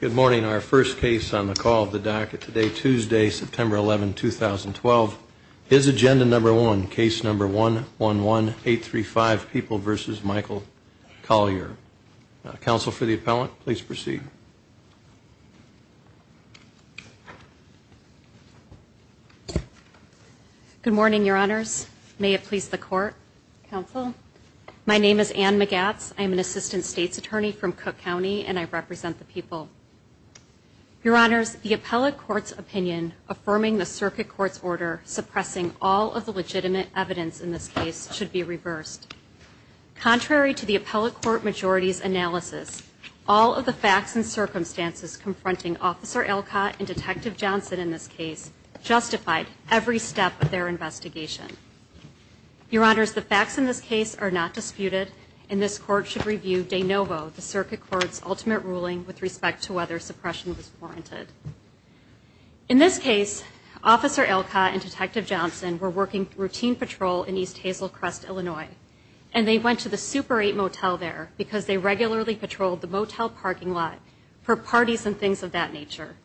Good morning. Our first case on the call of the docket today, Tuesday, September 11, 2012. Is agenda number one, case number 111835, People v. Michael Colyar. Counsel for the appellant, please proceed. Good morning, your honors. May it please the court, counsel. My name is Anne Magatz. I am an assistant state's attorney from Cook County, and I represent the people. Your honors, the appellate court's opinion affirming the circuit court's order suppressing all of the legitimate evidence in this case should be reversed. Contrary to the appellate court majority's analysis, all of the facts and circumstances confronting Officer Elcott and Detective Johnson in this case justified every step of their investigation. Your honors, the facts in this case are not disputed, and this court should review de novo the circuit court's ultimate ruling with respect to whether suppression was warranted. In this case, Officer Elcott and Detective Johnson were working routine patrol in East Hazel Crest, Illinois, and they went to the Super 8 motel there because they regularly patrolled the motel parking lot for parties and things of that nature.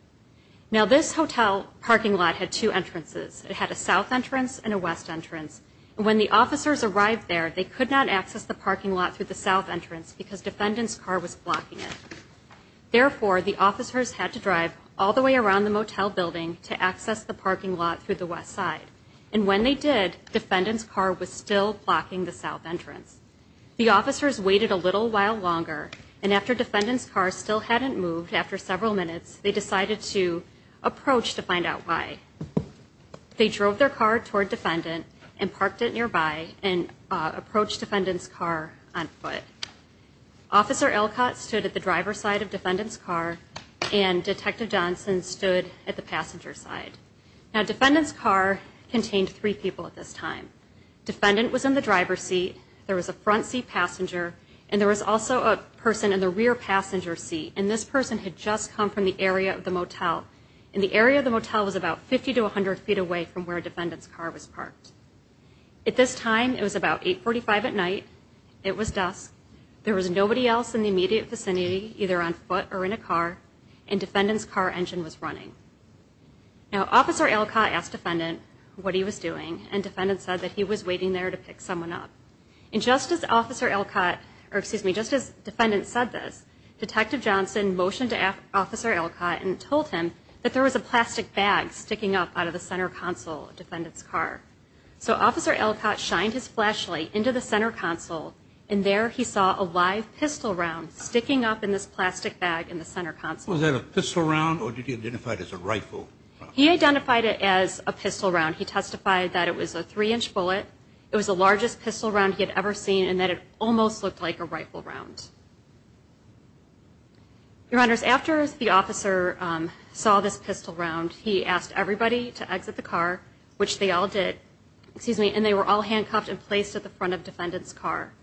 Now, this hotel parking lot had two entrances. It had a south entrance and a west entrance. And when the officers arrived there, they could not access the parking lot through the south entrance because defendant's car was blocking it. Therefore, the officers had to drive all the way around the motel building to access the parking lot through the west side. And when they did, defendant's car was still blocking the south entrance. The officers waited a little while longer, and after defendant's car still hadn't moved after several minutes, they decided to approach to find out why. They drove their car toward defendant and parked it nearby and approached defendant's car on foot. Officer Elcott stood at the driver's side of defendant's car, and Detective Johnson stood at the passenger's side. Now, defendant's car contained three people at this time. Defendant was in the driver's seat, there was a front seat passenger, and there was also a person in the rear passenger seat. And this person had just come from the area of the motel, and the area of the motel was about 50 to 100 feet away from where defendant's car was parked. At this time, it was about 8.45 at night, it was dusk, there was nobody else in the immediate vicinity, either on foot or in a car, and defendant's car engine was running. Now, Officer Elcott asked defendant what he was doing, and defendant said that he was waiting there to pick someone up. And just as officer Elcott, or excuse me, just as defendant said this, Detective Johnson motioned to Officer Elcott and told him that there was a plastic bag sticking up out of the center console of defendant's car. So, Officer Elcott shined his flashlight into the center console, and there he saw a live pistol round sticking up in this plastic bag in the center console. He identified it as a pistol round. He testified that it was a three-inch bullet, it was the largest pistol round he had ever seen, and that it almost looked like a rifle round. Your Honors, after the officer saw this pistol round, he asked everybody to exit the car, which they all did, and they were all handcuffed and placed at the front of defendant's car.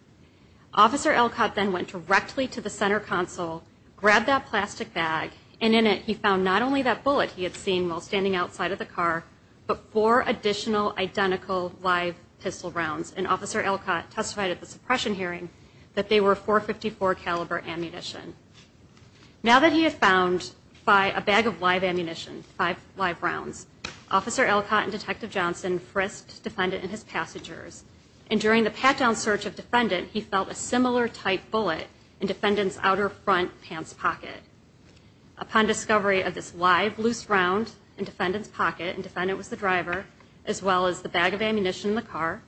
Officer Elcott then went directly to the center console, grabbed that plastic bag, and in it he found not only that bullet he had seen while standing outside of the car, but four additional identical live pistol rounds. And Officer Elcott testified at the suppression hearing that they were .454 caliber ammunition. Now that he had found five, a bag of live ammunition, five live rounds, Officer Elcott and Detective Johnson frisked defendant and his passengers. And during the pat-down search of defendant, he felt a similar type bullet in defendant's outer front pants pocket. Upon discovery of this live, loose round in defendant's pocket, and defendant was the driver, as well as the bag of ammunition in the car,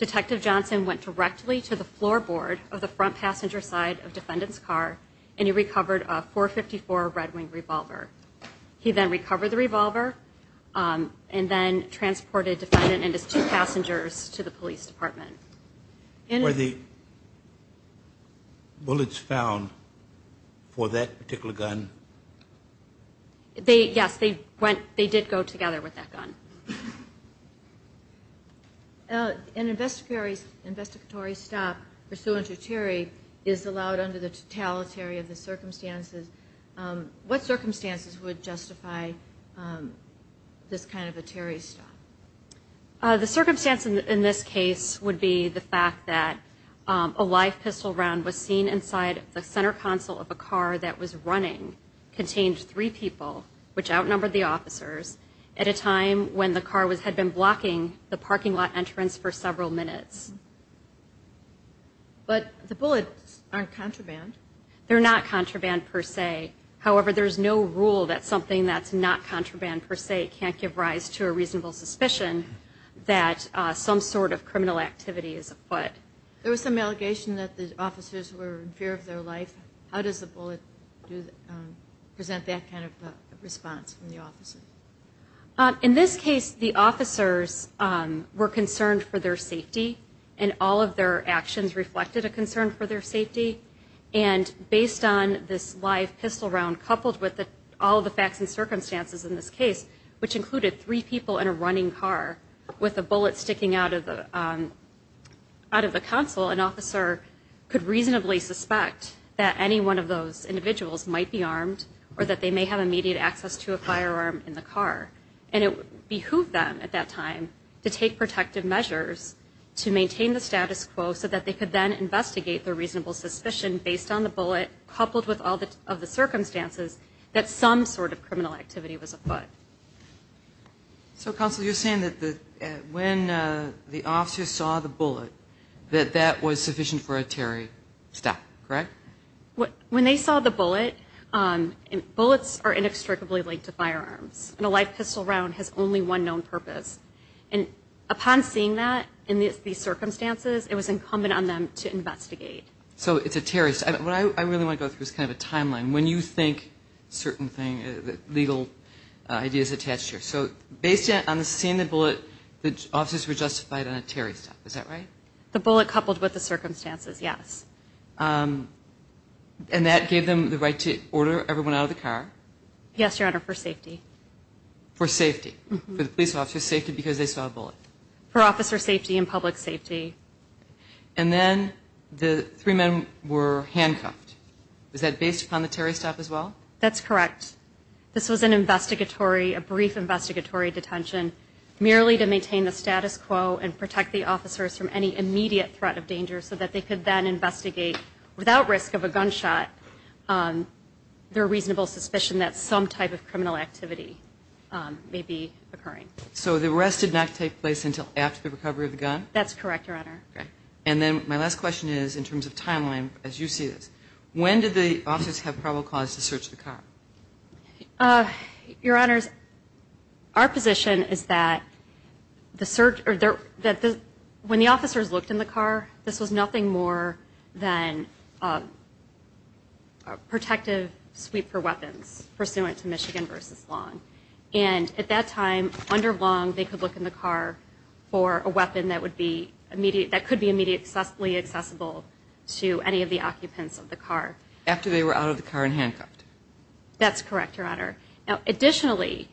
Detective Johnson went directly to the floorboard of the front passenger side of defendant's car, and he recovered a .454 Red Wing revolver. He then recovered the revolver, and then transported defendant and his two passengers to the police station. The convicts were then taken back to the police station and sent back to the federal police department. And the bullets found for that particular gun... They yes, they went, they did go together with that gun. An investigatory stop pursuant to Terry is allowed under the totalitary of the circumstances. What circumstances would justify this kind of a Terry stop? The circumstance in this case would be the fact that a live pistol round was seen inside the center console of a car that was running, contained three people, which outnumbered the officers, at a time when the car had been blocking the parking lot entrance for several minutes. But the bullets aren't contraband? They're not contraband per se. However, there's no rule that something that's not contraband per se can't give rise to a reasonable suspicion that some sort of criminal activity is afoot. There was some allegation that the officers were in fear of their life. How does the bullet present that kind of a response from the officers? In this case, the officers were concerned for their safety and all of their actions reflected a concern for their safety. And based on this live pistol round, coupled with all of the facts and circumstances in this case, which included three people in a running car with a bullet sticking out of the console, an officer could reasonably suspect that any one of those individuals might be armed or that they may have immediate access to a firearm in the car. And it behooved them at that time to take protective measures to maintain the status quo so that they could then investigate their reasonable suspicion based on the bullet, coupled with all of the circumstances, that some sort of criminal activity was afoot. So, Counsel, you're saying that when the officers saw the bullet, that that was sufficient for a terrorist attack, correct? When they saw the bullet, bullets are inextricably linked to firearms. And a live pistol round has only one known purpose. And upon seeing that in these circumstances, it was incumbent on them to investigate. So it's a terrorist. What I really want to go through is kind of a timeline. When you think certain legal ideas attached here. So based on seeing the bullet, the officers were justified on a terrorist attack, is that right? The bullet coupled with the circumstances, yes. And that gave them the right to order everyone out of the car? Yes, Your Honor, for safety. For safety, for the police officers' safety because they saw a bullet? For officer safety and public safety. And then the three men were handcuffed. Was that based upon the terrorist act as well? That's correct. This was an investigatory, a brief investigatory detention, merely to maintain the status quo and protect the officers from any immediate threat of danger so that they could then investigate without risk of a gunshot their reasonable suspicion that some type of criminal activity may be occurring. So the arrest did not take place until after the recovery of the gun? That's correct, Your Honor. And then my last question is in terms of timeline as you see this. When did the officers have probable cause to search the car? Your Honors, our position is that when the officers looked in the car, this was nothing more than a protective sweep for weapons pursuant to Michigan v. Long. And at that time, under Long, they could look in the car for a weapon that would be immediately accessible to any of the occupants of the car. After they were out of the car and handcuffed? That's correct, Your Honor. Additionally,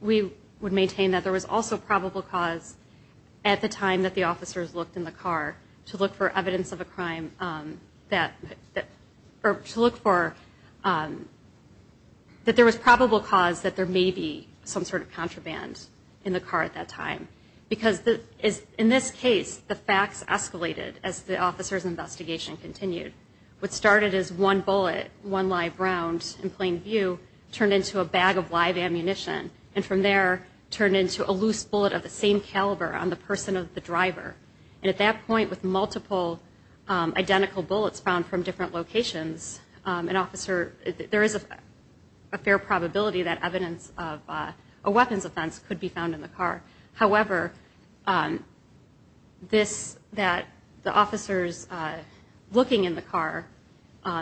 we would maintain that there was also probable cause at the time that the officers looked in the car to look for evidence of a crime that there was probable cause that there may be some sort of contraband in the car at that time. Because in this case, the facts escalated as the officers' investigation continued. What started as one bullet, one live round in plain view turned into a bag of live ammunition and from there turned into a loose bullet of the same caliber on the person of the driver. And at that point, with multiple identical bullets found from different locations, there is a fair probability that evidence of a weapons offense could be found in the car. However, the officers looking in the car,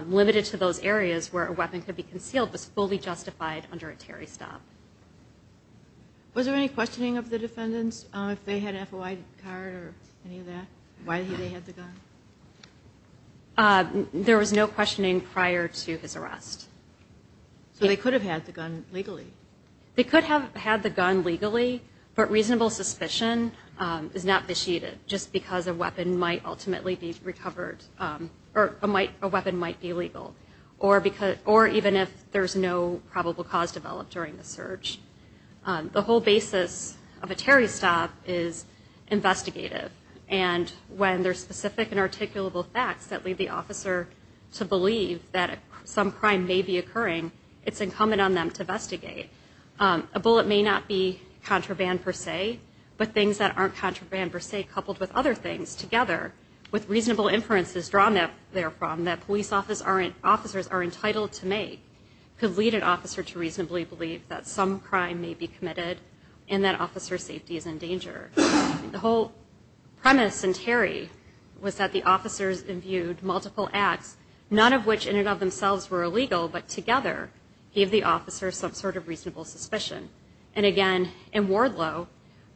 limited to those areas where a weapon could be concealed, was fully justified under a Terry stop. Was there any questioning of the defendants if they had an FOI card or any of that? Why they had the gun? There was no questioning prior to his arrest. So they could have had the gun legally? They could have had the gun legally, but reasonable suspicion is not besheeded, just because a weapon might ultimately be recovered, or a weapon might be legal. Or even if there's no probable cause developed during the search. The whole basis of a Terry stop is investigative. And when there's specific and articulable facts that lead the officer to believe that some crime may be occurring, it's incumbent on them to investigate. A bullet may not be contraband per se, but things that aren't contraband per se, coupled with other things together, with reasonable inferences drawn therefrom that police officers are entitled to make, could lead an officer to reasonably believe that some crime may be committed and that officer's safety is in danger. The whole premise in Terry was that the officers imbued multiple acts, none of which in and of themselves were illegal, but together gave the officers some sort of reasonable suspicion. And again, in Wardlow,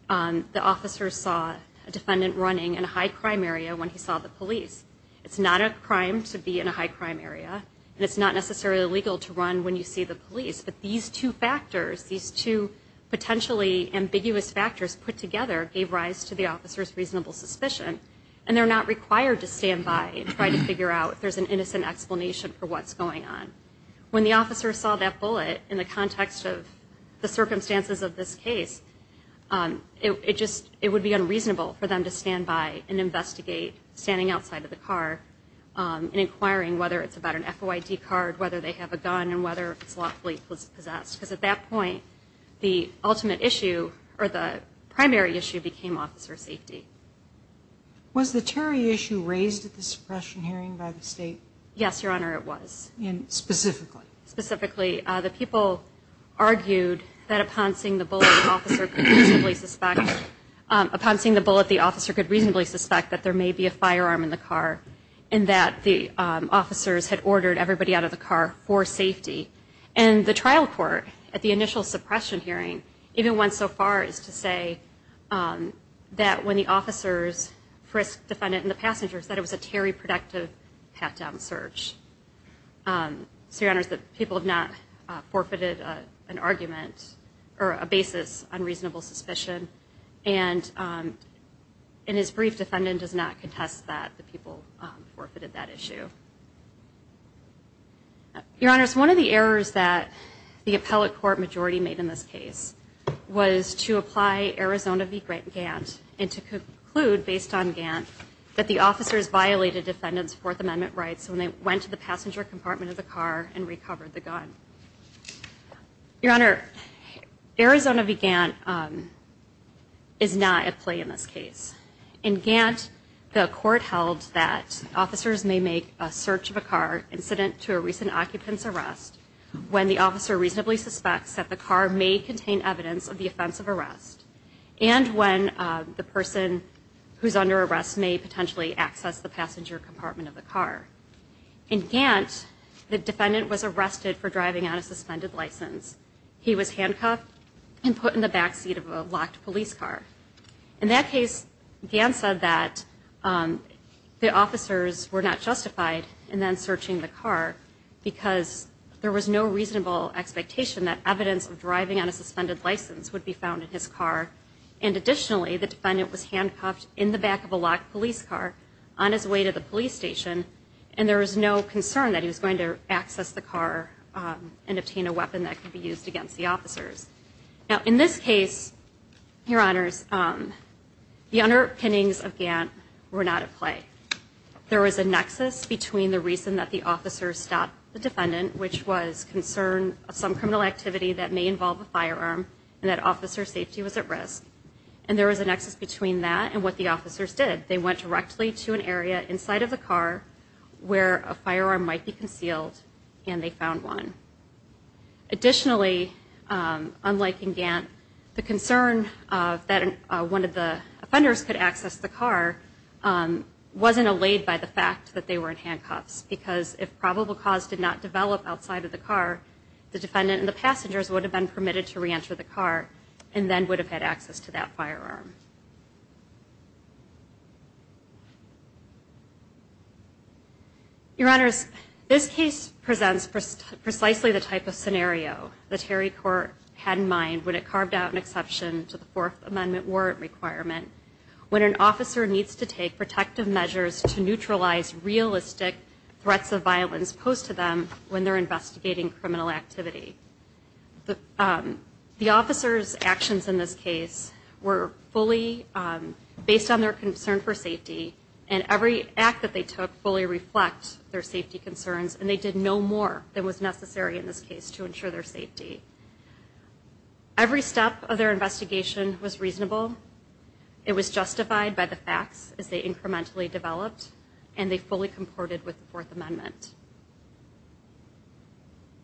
the officers saw a defendant running in a high crime area when he saw the police. It's not a crime to be in a high crime area, and it's not necessarily illegal to run when you see the police. But these two factors, these two potentially ambiguous factors put together, gave rise to the officer's reasonable suspicion. And they're not required to stand by and try to figure out if there's an innocent explanation for what's going on. When the officer saw that bullet in the context of the circumstances of this case, it would be unreasonable for them to stand by and investigate standing outside of the car and inquiring whether it's about an FOID card, whether they have a gun, and whether it's lawfully possessed. Because at that point, the ultimate issue, or the primary issue, became officer safety. Was the Terry issue raised at the suppression hearing by the state? Yes, Your Honor, it was. And specifically? Specifically. The people argued that upon seeing the bullet, the officer could reasonably suspect that there may be a firearm in the car, and that the officers had ordered everybody out of the car for safety. And the trial court, at the initial suppression hearing, even went so far as to say that when the officers frisked the defendant and the passengers, that it was a Terry-productive pat-down search. So, Your Honors, the people have not forfeited an argument or a basis on reasonable suspicion. And in his brief, defendant does not contest that the people forfeited that issue. Your Honors, one of the errors that the appellate court majority made in this case was to apply Arizona v. Gant and to conclude, based on Gant, that the officers violated defendant's Fourth Amendment rights when they went to the passenger compartment of the car and recovered the gun. Your Honor, Arizona v. Gant is not at play in this case. In Gant, the court held that officers may make a search of a car incident to a recent occupant's arrest when the officer reasonably suspects that the car may contain evidence of the offense of arrest and when the person who's under arrest may potentially access the passenger compartment of the car. In Gant, the defendant was arrested for driving on a suspended license. He was handcuffed and put in the back seat of a locked police car. In that case, Gant said that the officers were not justified in then searching the car because there was no reasonable expectation that evidence of driving on a suspended license would be found in his car. And additionally, the defendant was handcuffed in the back of a locked police car on his way to the police station and there was no concern that he was going to access the car and obtain a weapon that could be used against the officers. Now, in this case, Your Honors, the underpinnings of Gant were not at play. There was a nexus between the reason that the officers stopped the defendant, which was concern of some criminal activity that may involve a firearm, and that officer safety was at risk. And there was a nexus between that and what the officers did. They went directly to an area inside of the car where a firearm might be concealed and they found one. Additionally, unlike in Gant, the concern that one of the offenders could access the car wasn't allayed by the fact that they were in handcuffs because if probable cause did not develop outside of the car, the defendant and the passengers would have been permitted to reenter the car and then would have had access to that firearm. Your Honors, this case presents precisely the type of scenario the Terry Court had in mind when it carved out an exception to the Fourth Amendment warrant requirement. When an officer needs to take protective measures to neutralize realistic threats of violence posed to them when they're investigating criminal activity. The officers' actions in this case were fully in line with what the Terry Court had in mind. Based on their concern for safety, and every act that they took fully reflects their safety concerns, and they did no more than was necessary in this case to ensure their safety. Every step of their investigation was reasonable. It was justified by the facts as they incrementally developed, and they fully comported with the Fourth Amendment.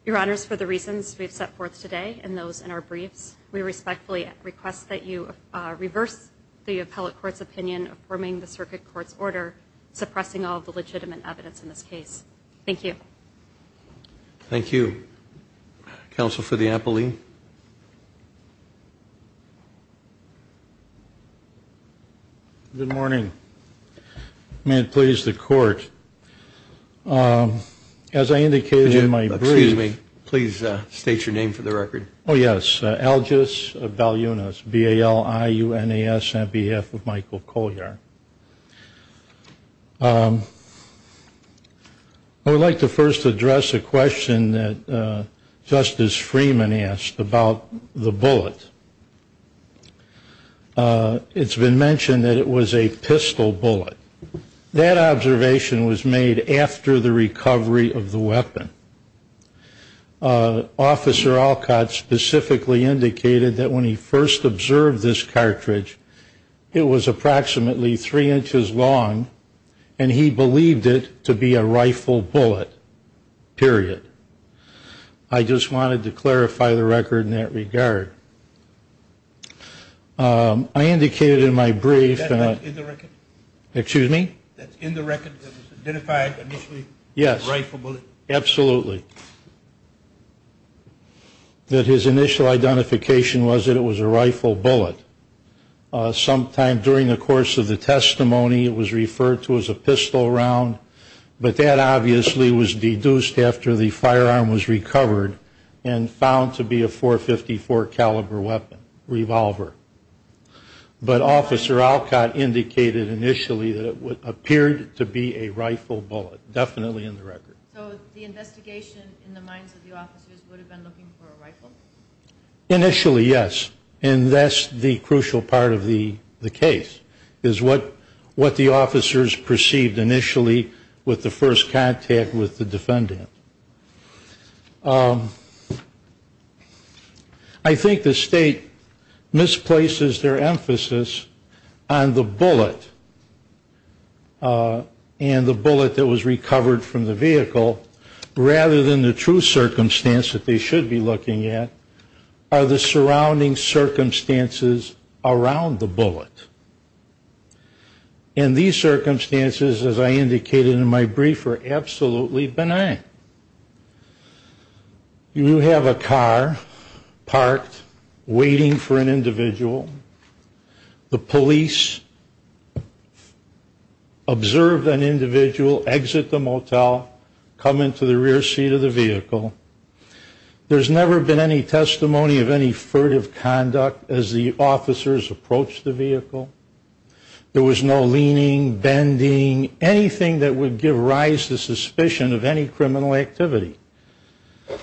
Your Honors, for the reasons we've set forth today and those in our briefs, we respectfully request that you reverse the appellate court's opinion affirming the circuit court's order, suppressing all the legitimate evidence in this case. Thank you. Thank you. Counsel for the appellee. Good morning. May it please the Court, as I indicated in my brief. Excuse me. Please state your name for the record. Oh, yes. Algis Valunas, B-A-L-I-U-N-A-S, on behalf of Michael Collier. I would like to first address a question that Justice Freeman asked about the bullet. It's been mentioned that it was a pistol bullet. That observation was made after the recovery of the weapon. Officer Alcott specifically indicated that when he first observed this cartridge, it was approximately three inches long, and he believed it to be a rifle bullet, period. I just wanted to clarify the record in that regard. I indicated in my brief. Excuse me. That's in the record that was identified initially as a rifle bullet? Yes, absolutely. That his initial identification was that it was a rifle bullet. Sometime during the course of the testimony, it was referred to as a pistol round, but that obviously was deduced after the firearm was recovered and found to be a .454 caliber weapon, revolver. But Officer Alcott indicated initially that it appeared to be a rifle bullet, definitely in the record. So the investigation in the minds of the officers would have been looking for a rifle? Initially, yes, and that's the crucial part of the case, is what the officers perceived initially with the first contact with the defendant. I think the State misplaces their emphasis on the bullet and the bullet that was recovered from the vehicle, rather than the true circumstance that they should be looking at, And these circumstances, as I indicated in my brief, are absolutely benign. You have a car parked, waiting for an individual. The police observed an individual exit the motel, come into the rear seat of the vehicle. There's never been any testimony of any furtive conduct as the officers approached the vehicle. There was no leaning, bending, anything that would give rise to suspicion of any criminal activity.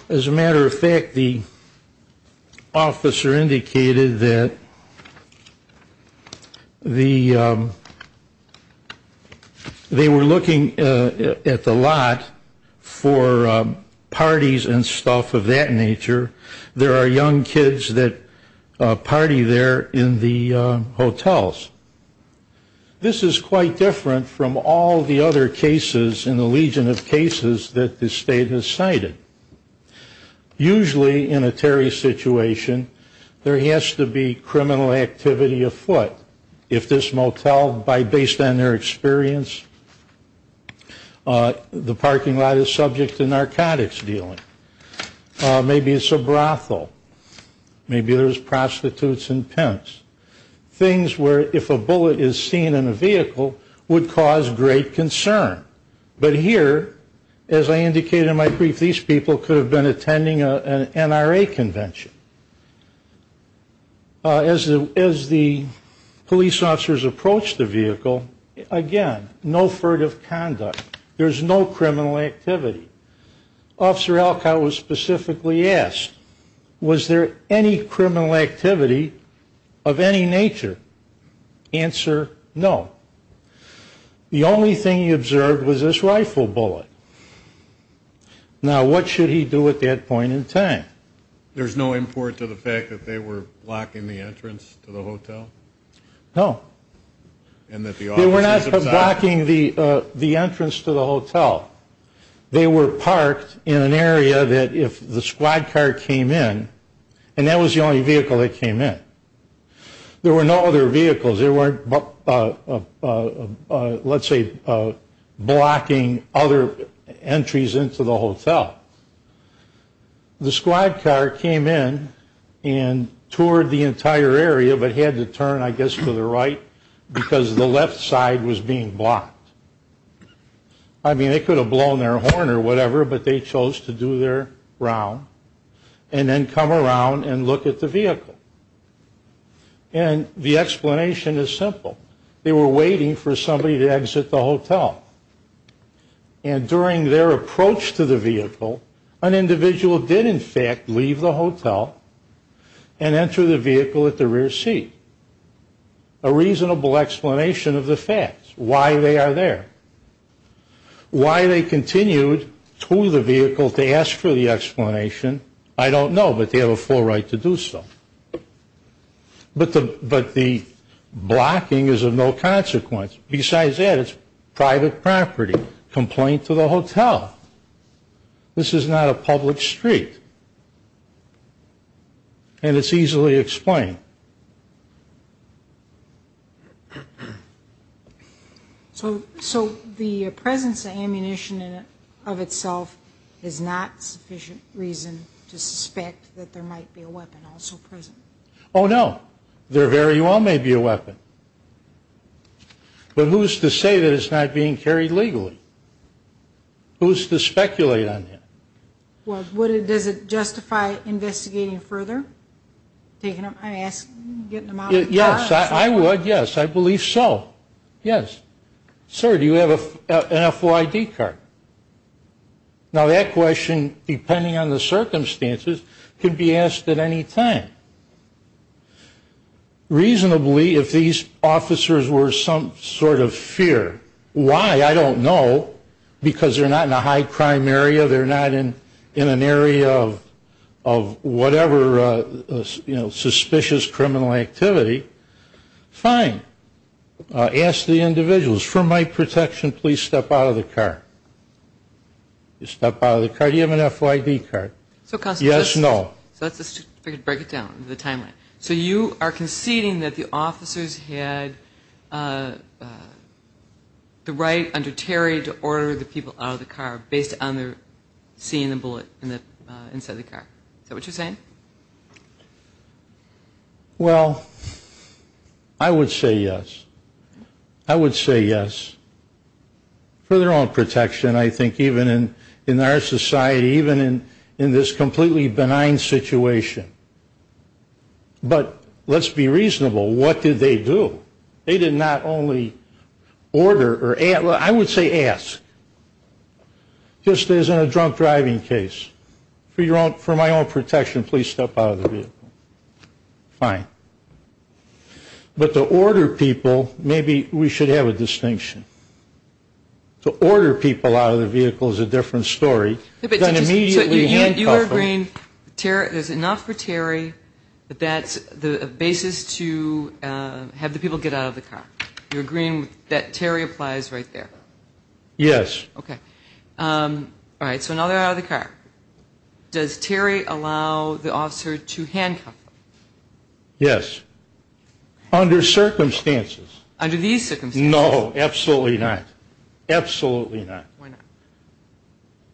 As a matter of fact, the officer indicated that they were looking at the lot for parties and stuff of that nature. There are young kids that party there in the hotels. This is quite different from all the other cases in the legion of cases that the State has cited. Usually in a Terry situation, there has to be criminal activity afoot. If this motel, based on their experience, the parking lot is subject to narcotics dealing. Maybe it's a brothel. Maybe there's prostitutes and pimps. Things where, if a bullet is seen in a vehicle, would cause great concern. But here, as I indicated in my brief, these people could have been attending an NRA convention. As the police officers approached the vehicle, again, no furtive conduct. There's no criminal activity. Officer Alcott was specifically asked, was there any criminal activity of any nature? Answer, no. The only thing he observed was this rifle bullet. There's no import to the fact that they were blocking the entrance to the hotel? No. They were not blocking the entrance to the hotel. They were parked in an area that if the squad car came in, and that was the only vehicle that came in. There were no other vehicles. They weren't, let's say, blocking other entries into the hotel. The squad car came in and toured the entire area, but had to turn, I guess, to the right, because the left side was being blocked. I mean, they could have blown their horn or whatever, but they chose to do their round and then come around and look at the vehicle. And the explanation is simple. They were waiting for somebody to exit the hotel. And during their approach to the vehicle, an individual did, in fact, leave the hotel and enter the vehicle at the rear seat. A reasonable explanation of the facts, why they are there. Why they continued to the vehicle to ask for the explanation, I don't know, but they have a full right to do so. But the blocking is of no consequence. Besides that, it's private property. Complaint to the hotel. This is not a public street. And it's easily explained. So the presence of ammunition in it of itself is not sufficient reason to suspect that there might be a weapon also present. Oh, no. There very well may be a weapon. But who's to say that it's not being carried legally? Who's to speculate on that? Well, does it justify investigating further? I'm asking, getting them out of the car? Yes, I would, yes. I believe so. Yes. Sir, do you have an FOID card? Now, that question, depending on the circumstances, can be asked at any time. Reasonably, if these officers were some sort of fear, why, I don't know, because they're not in a high-crime area, they're not in an area of whatever suspicious criminal activity, fine. Ask the individuals, for my protection, please step out of the car. Step out of the car. Do you have an FOID card? Yes, no. So let's just break it down into the timeline. So you are conceding that the officers had the right under Terry to order the people out of the car based on seeing the bullet inside the car. Is that what you're saying? Well, I would say yes. I would say yes for their own protection, I think, even in our society, even in this completely benign situation. But let's be reasonable. What did they do? They did not only order or ask. I would say ask, just as in a drunk driving case. For my own protection, please step out of the vehicle. Fine. But to order people, maybe we should have a distinction. To order people out of the vehicle is a different story than immediately handcuffing. You're agreeing there's enough for Terry, but that's the basis to have the people get out of the car. You're agreeing that Terry applies right there? Yes. Okay. All right, so now they're out of the car. Does Terry allow the officer to handcuff them? Yes, under circumstances. Under these circumstances? No, absolutely not. Absolutely not.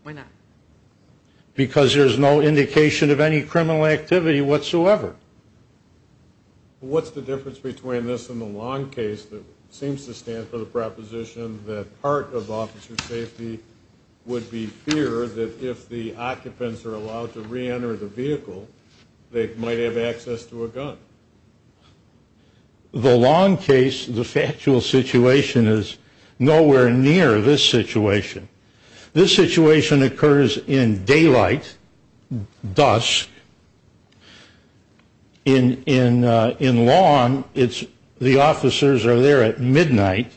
Why not? Because there's no indication of any criminal activity whatsoever. What's the difference between this and the long case that seems to stand for the proposition that part of officer safety would be fear that if the occupants are allowed to reenter the vehicle, they might have access to a gun? The long case, the factual situation is nowhere near this situation. This situation occurs in daylight, dusk. In lawn, the officers are there at midnight.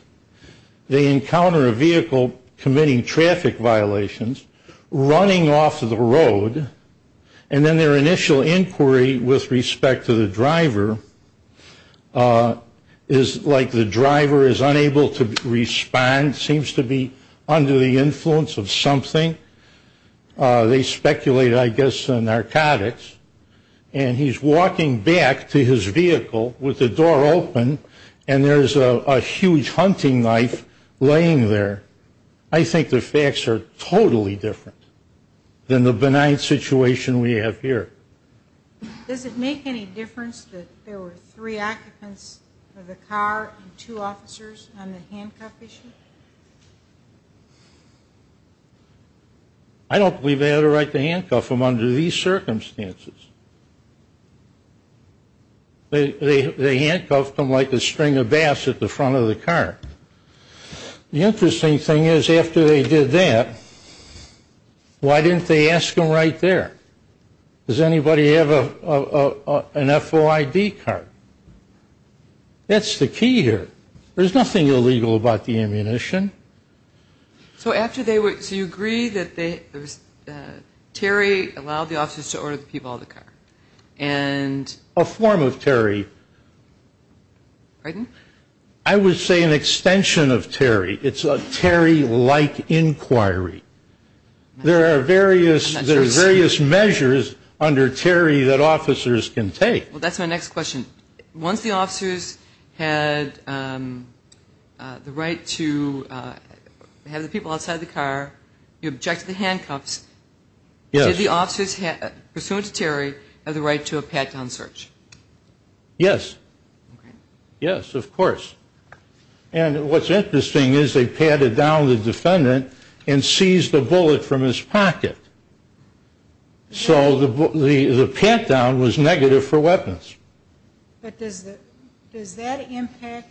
They encounter a vehicle committing traffic violations, running off the road, and then their initial inquiry with respect to the driver is like the driver is unable to respond, seems to be under the influence of something. They speculate, I guess, narcotics, and he's walking back to his vehicle with the door open, and there's a huge hunting knife laying there. I think the facts are totally different than the benign situation we have here. Does it make any difference that there were three occupants of the car and two officers on the handcuff issue? I don't believe they had a right to handcuff them under these circumstances. They handcuffed them like a string of bass at the front of the car. The interesting thing is after they did that, why didn't they ask them right there? Does anybody have an FOID card? That's the key here. There's nothing illegal about the ammunition. So you agree that Terry allowed the officers to order the people out of the car? A form of Terry. Pardon? I would say an extension of Terry. It's a Terry-like inquiry. There are various measures under Terry that officers can take. Well, that's my next question. Once the officers had the right to have the people outside the car, you objected to handcuffs. Did the officers pursuant to Terry have the right to a pat-down search? Yes. Yes, of course. And what's interesting is they patted down the defendant and seized a bullet from his pocket. So the pat-down was negative for weapons. But does that impact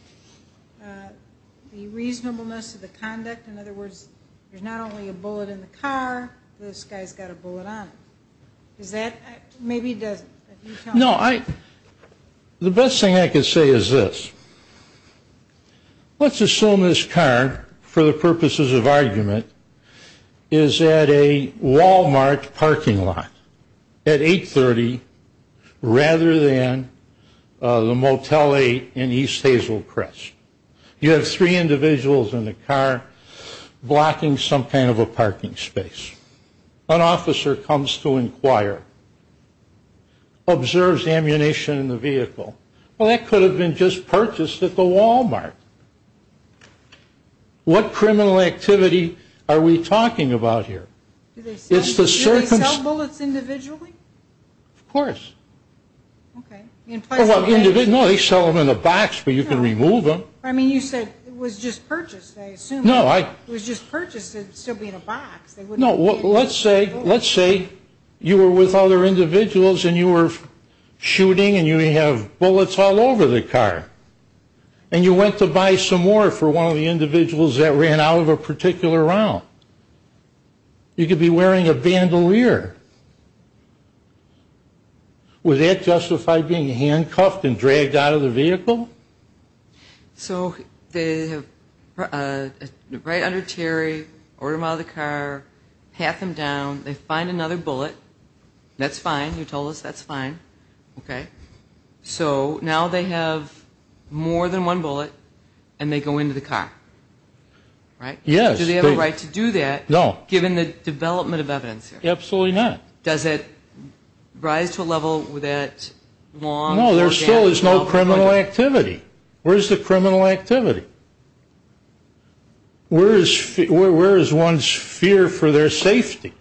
the reasonableness of the conduct? In other words, there's not only a bullet in the car. This guy's got a bullet on him. Maybe he doesn't. No, the best thing I can say is this. Let's assume this car, for the purposes of argument, is at a Walmart parking lot at 830 rather than the Motel 8 in East Hazel Crest. You have three individuals in the car blocking some kind of a parking space. An officer comes to inquire, observes the ammunition in the vehicle. Well, that could have been just purchased at the Walmart. What criminal activity are we talking about here? Do they sell bullets individually? Of course. Okay. No, they sell them in a box, but you can remove them. I mean, you said it was just purchased, I assume. No. It was just purchased. It would still be in a box. No. Let's say you were with other individuals and you were shooting and you have bullets all over the car, and you went to buy some more for one of the individuals that ran out of a particular round. You could be wearing a bandolier. Would that justify being handcuffed and dragged out of the vehicle? So they have right under Terry, order him out of the car, pat them down. They find another bullet. That's fine. You told us that's fine. Okay. So now they have more than one bullet, and they go into the car, right? Yes. Do they have a right to do that given the development of evidence here? Absolutely not. Does it rise to a level that long? No, there still is no criminal activity. Where is the criminal activity? Where is one's fear for their safety?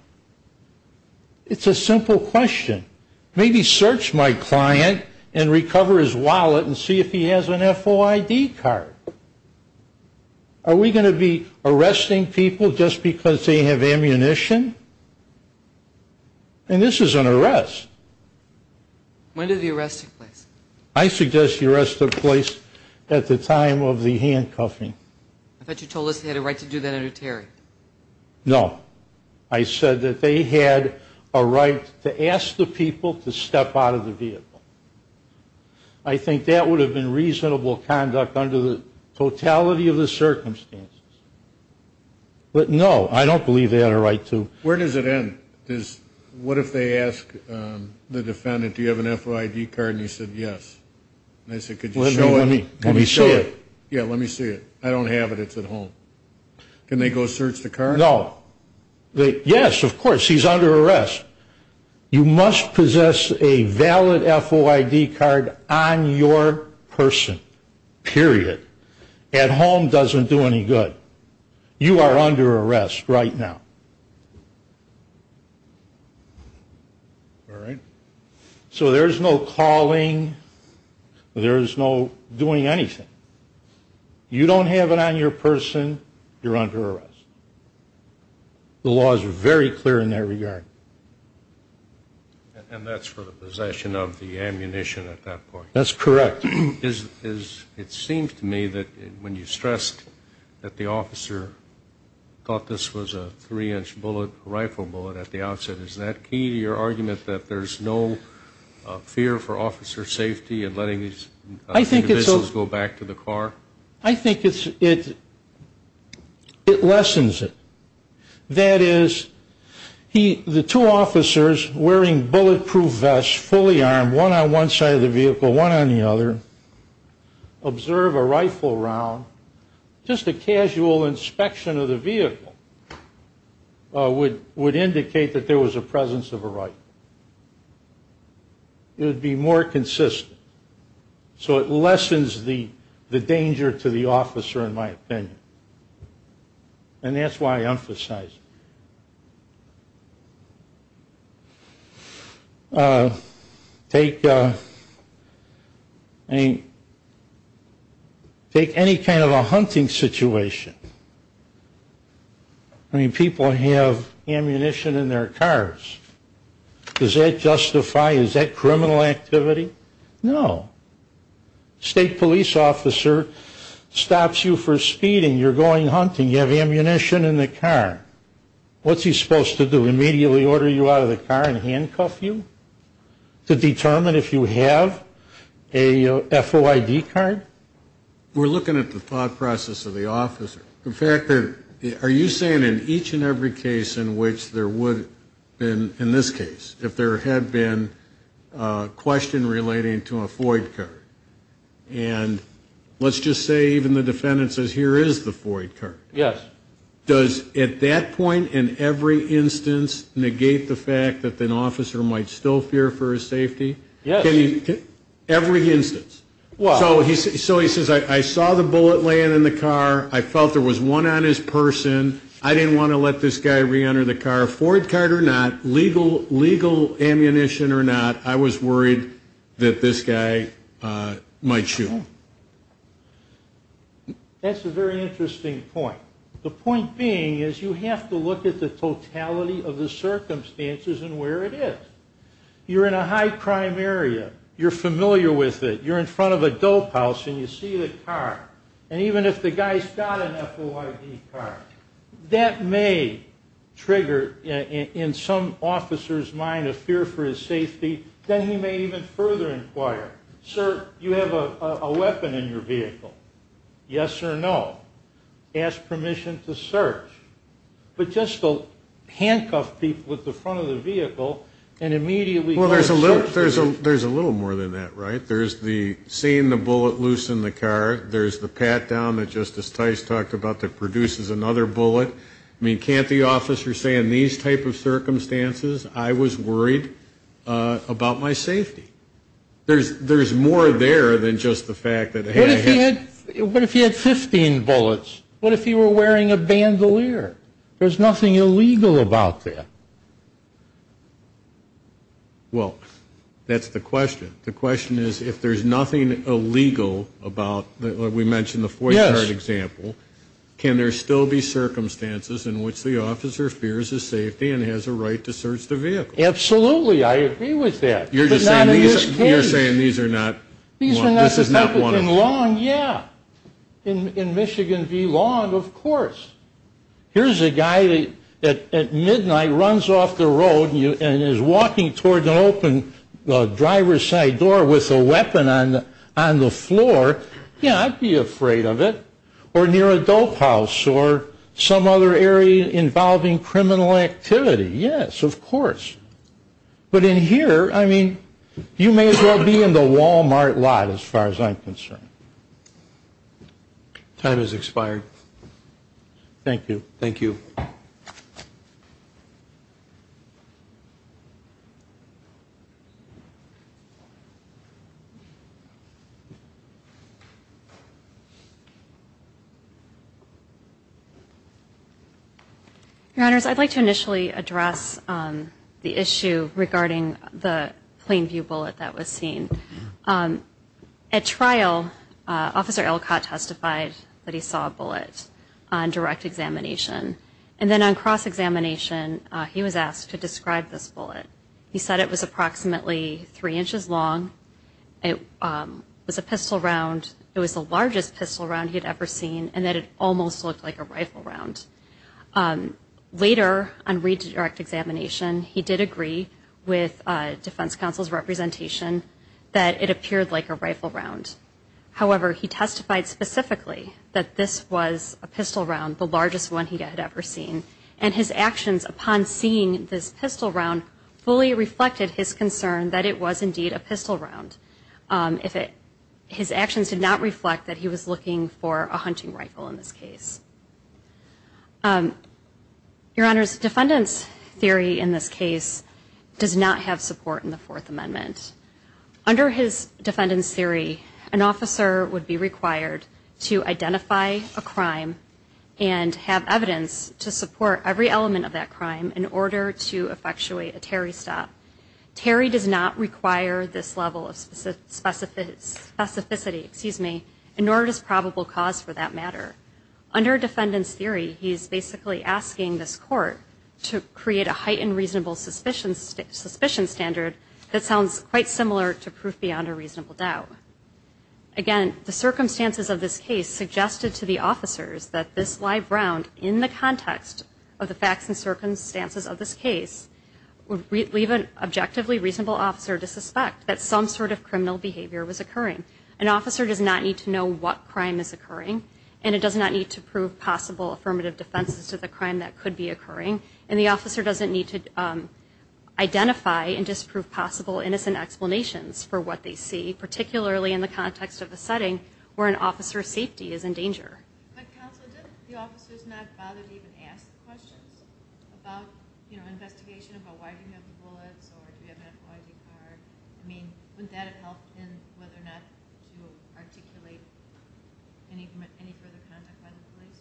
It's a simple question. Maybe search my client and recover his wallet and see if he has an FOID card. Are we going to be arresting people just because they have ammunition? And this is an arrest. When did the arrest take place? I suggest the arrest took place at the time of the handcuffing. I thought you told us they had a right to do that under Terry. No. I said that they had a right to ask the people to step out of the vehicle. I think that would have been reasonable conduct under the totality of the circumstances. But, no, I don't believe they had a right to. Where does it end? What if they ask the defendant, do you have an FOID card? And he said, yes. And they said, could you show it? Let me see it. Yeah, let me see it. I don't have it. It's at home. Can they go search the car? No. Yes, of course. He's under arrest. You must possess a valid FOID card on your person, period. At home doesn't do any good. You are under arrest right now. So there's no calling. There's no doing anything. You don't have it on your person, you're under arrest. The laws are very clear in that regard. And that's for the possession of the ammunition at that point. That's correct. It seems to me that when you stressed that the officer thought this was a three-inch rifle bullet at the outset, is that key to your argument that there's no fear for officer safety in letting these individuals go back to the car? I think it lessens it. That is, the two officers wearing bulletproof vests, fully armed, one on one side of the vehicle, one on the other, observe a rifle round. Just a casual inspection of the vehicle would indicate that there was a presence of a rifle. It would be more consistent. So it lessens the danger to the officer, in my opinion. And that's why I emphasize it. Take any kind of a hunting situation. I mean, people have ammunition in their cars. Does that justify, is that criminal activity? No. State police officer stops you for speeding, you're going hunting, you have ammunition in the car. What's he supposed to do, immediately order you out of the car and handcuff you to determine if you have a FOID card? We're looking at the thought process of the officer. In fact, are you saying in each and every case in which there would have been, in this case, if there had been a question relating to a FOID card? And let's just say even the defendant says, here is the FOID card. Yes. Does, at that point, in every instance, negate the fact that an officer might still fear for his safety? Yes. Every instance. So he says, I saw the bullet laying in the car. I felt there was one on his person. I didn't want to let this guy reenter the car. Whether a Ford card or not, legal ammunition or not, I was worried that this guy might shoot. That's a very interesting point. The point being is you have to look at the totality of the circumstances and where it is. You're in a high-crime area. You're familiar with it. You're in front of a dope house and you see the car. And even if the guy's got an FOID card, that may trigger in some officer's mind a fear for his safety. Then he may even further inquire. Sir, you have a weapon in your vehicle. Yes or no? Ask permission to search. But just to handcuff people at the front of the vehicle and immediately go search. Well, there's a little more than that, right? There's the seeing the bullet loose in the car. There's the pat-down that Justice Tice talked about that produces another bullet. I mean, can't the officer say in these type of circumstances I was worried about my safety? There's more there than just the fact that I had a handgun. What if he had 15 bullets? What if he were wearing a bandolier? There's nothing illegal about that. Well, that's the question. The question is if there's nothing illegal about what we mentioned, the FOID card example, can there still be circumstances in which the officer fears his safety and has a right to search the vehicle? Absolutely. I agree with that. But not in this case. You're saying these are not one and the same? These are not the same. In Long, yeah. In Michigan v. Long, of course. Here's a guy at midnight who runs off the road and is walking toward an open driver's side door with a weapon on the floor. Yeah, I'd be afraid of it. Or near a dope house or some other area involving criminal activity. Yes, of course. But in here, I mean, you may as well be in the Walmart lot as far as I'm concerned. Time has expired. Thank you. Thank you. Your Honors, I'd like to initially address the issue regarding the plain view bullet that was seen. At trial, Officer Elcott testified that he saw a bullet on direct examination. And then on cross-examination, he was asked to describe this bullet. He said it was approximately three inches long, it was a pistol round, it was the largest pistol round he had ever seen, and that it almost looked like a rifle round. Later, on redirect examination, he did agree with Defense Counsel's representation that it appeared like a rifle round. However, he testified specifically that this was a pistol round, the largest one he had ever seen. And his actions upon seeing this pistol round fully reflected his concern that it was indeed a pistol round. His actions did not reflect that he was looking for a hunting rifle in this case. Your Honors, defendant's theory in this case does not have support in the Fourth Amendment. Under his defendant's theory, an officer would be required to identify a crime and have evidence to support every element of that crime in order to effectuate a Terry stop. Terry does not require this level of specificity, excuse me, and nor does probable cause for that matter. Under defendant's theory, he's basically asking this court to create a heightened reasonable suspicion standard that sounds quite similar to proof beyond a reasonable doubt. Again, the circumstances of this case suggested to the officers that this live round, in the context of the facts and circumstances of this case, would leave an objectively reasonable officer to suspect that some sort of criminal behavior was occurring. An officer does not need to know what crime is occurring, and it does not need to prove possible affirmative defenses to the crime that could be occurring. And the officer doesn't need to identify and disprove possible innocent explanations for what they see, particularly in the context of a setting where an officer's safety is in danger. But counsel, didn't the officers not bother to even ask questions about, you know, investigation about why do we have the bullets or do we have an FOIA card? I mean, wouldn't that have helped in whether or not to articulate any further conduct by the police?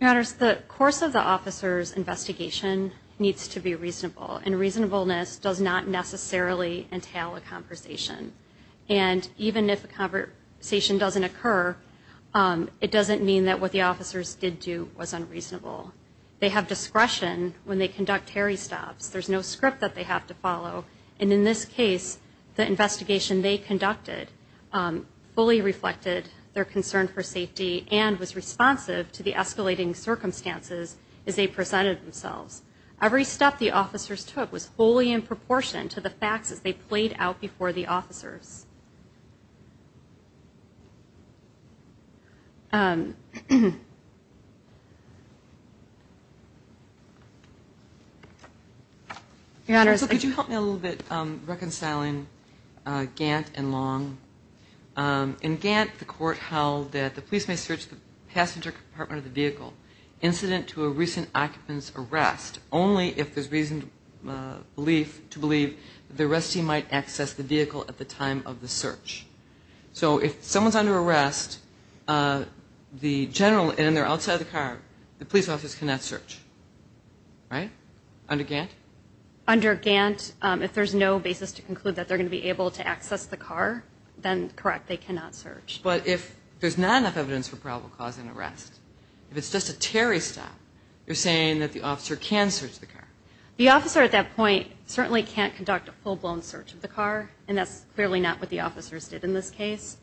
Your Honors, the course of the officer's investigation needs to be reasonable, and reasonableness does not necessarily entail a conversation. And even if a conversation doesn't occur, it doesn't mean that what the officers did do was unreasonable. They have discretion when they conduct hairy stops. There's no script that they have to follow. And in this case, the investigation they conducted fully reflected their concern for safety and was responsive to the escalating circumstances as they presented themselves. Every step the officers took was fully in proportion to the facts as they played out before the officers. Your Honors, could you help me a little bit reconciling Gant and Long? In Gant, the court held that the police may search the passenger compartment of the vehicle. Incident to a recent occupant's arrest only if there's reason to believe the arrestee might access the vehicle at the time of the search. So if someone's under arrest, the general and they're outside the car, the police officers cannot search. Right? Under Gant? Under Gant, if there's no basis to conclude that they're going to be able to access the car, then, correct, they cannot search. But if there's not enough evidence for probable cause and arrest, if it's just a Terry stop, you're saying that the officer can search the car? The officer at that point certainly can't conduct a full-blown search of the car, and that's clearly not what the officers did in this case.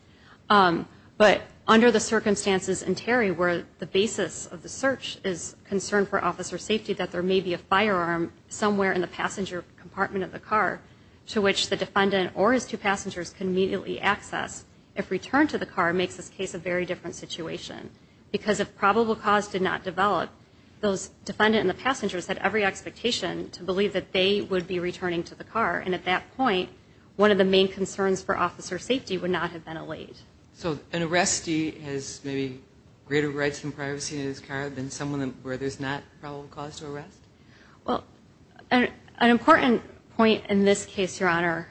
But under the circumstances in Terry where the basis of the search is concern for officer safety, that there may be a firearm somewhere in the passenger compartment of the car to which the defendant or his two passengers can immediately access if returned to the car makes this case a very different situation because if probable cause did not develop, those defendant and the passengers had every expectation to believe that they would be returning to the car. And at that point, one of the main concerns for officer safety would not have been allayed. So an arrestee has maybe greater rights and privacy in his car than someone where there's not probable cause to arrest? Well, an important point in this case, Your Honor,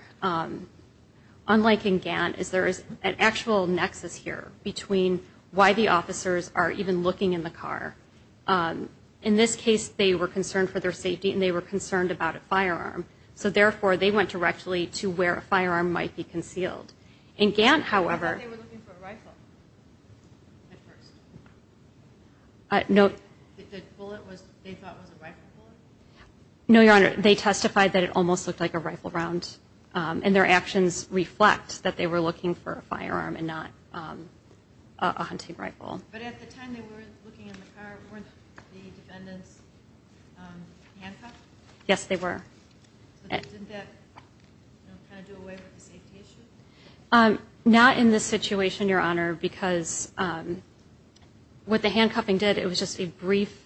unlike in Gant, is there is an actual nexus here between why the officers are even looking in the car. In this case, they were concerned for their safety and they were concerned about a firearm. So, therefore, they went directly to where a firearm might be concealed. In Gant, however, I thought they were looking for a rifle at first. No. No, Your Honor. They testified that it almost looked like a rifle round. And their actions reflect that they were looking for a firearm and not a hunting rifle. But at the time they were looking in the car, weren't the defendants handcuffed? Yes, they were. Didn't that kind of do away with the safety issue? Not in this situation, Your Honor, because what the handcuffing did, it was just a brief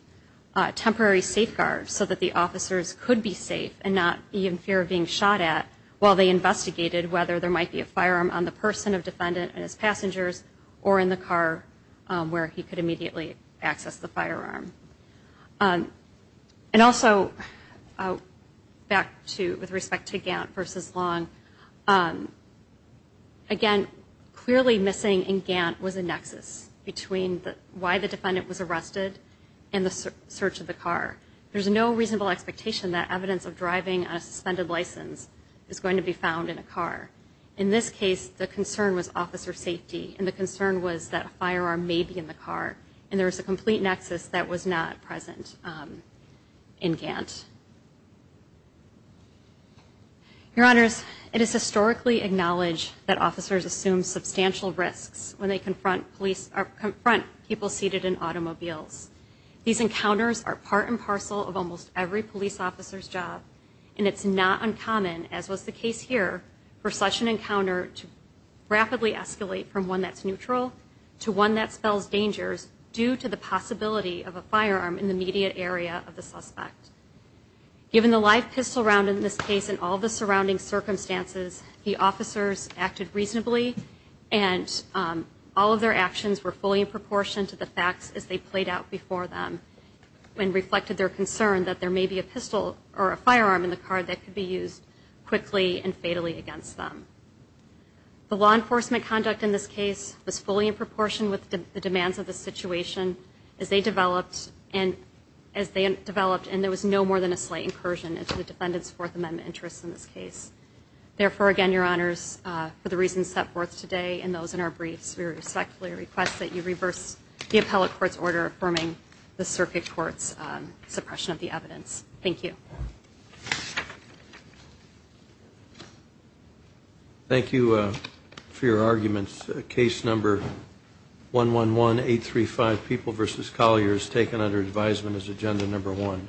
temporary safeguard so that the officers could be safe and not be in fear of being shot at while they investigated whether there might be a firearm on the person, a defendant, and his passengers, or in the car where he could immediately access the firearm. And also, back to with respect to Gant versus Long, again, clearly missing in Gant was a nexus between why the defendant was arrested and the search of the car. There's no reasonable expectation that evidence of driving on a suspended license is going to be found in a car. In this case, the concern was officer safety, and the concern was that a firearm may be in the car, and there was a complete nexus that was not present in Gant. Your Honors, it is historically acknowledged that officers assume substantial risks when they confront people seated in automobiles. These encounters are part and parcel of almost every police officer's job, and it's not uncommon, as was the case here, for such an encounter to rapidly escalate from one that's neutral to one that spells dangers due to the possibility of a firearm in the immediate area of the suspect. Given the live pistol round in this case and all the surrounding circumstances, the officers acted reasonably, and all of their actions were fully in proportion to the facts as they played out before them and reflected their concern that there may be a pistol or a firearm in the car that could be used quickly and fatally against them. The law enforcement conduct in this case was fully in proportion with the demands of the situation as they developed, and there was no more than a slight incursion into the defendant's Fourth Amendment interests in this case. Therefore, again, Your Honors, for the reasons set forth today and those in our briefs, we respectfully request that you reverse the appellate court's order affirming the circuit court's suppression of the evidence. Thank you. Thank you for your arguments. Case number 111835, People v. Collier, is taken under advisement as agenda number one.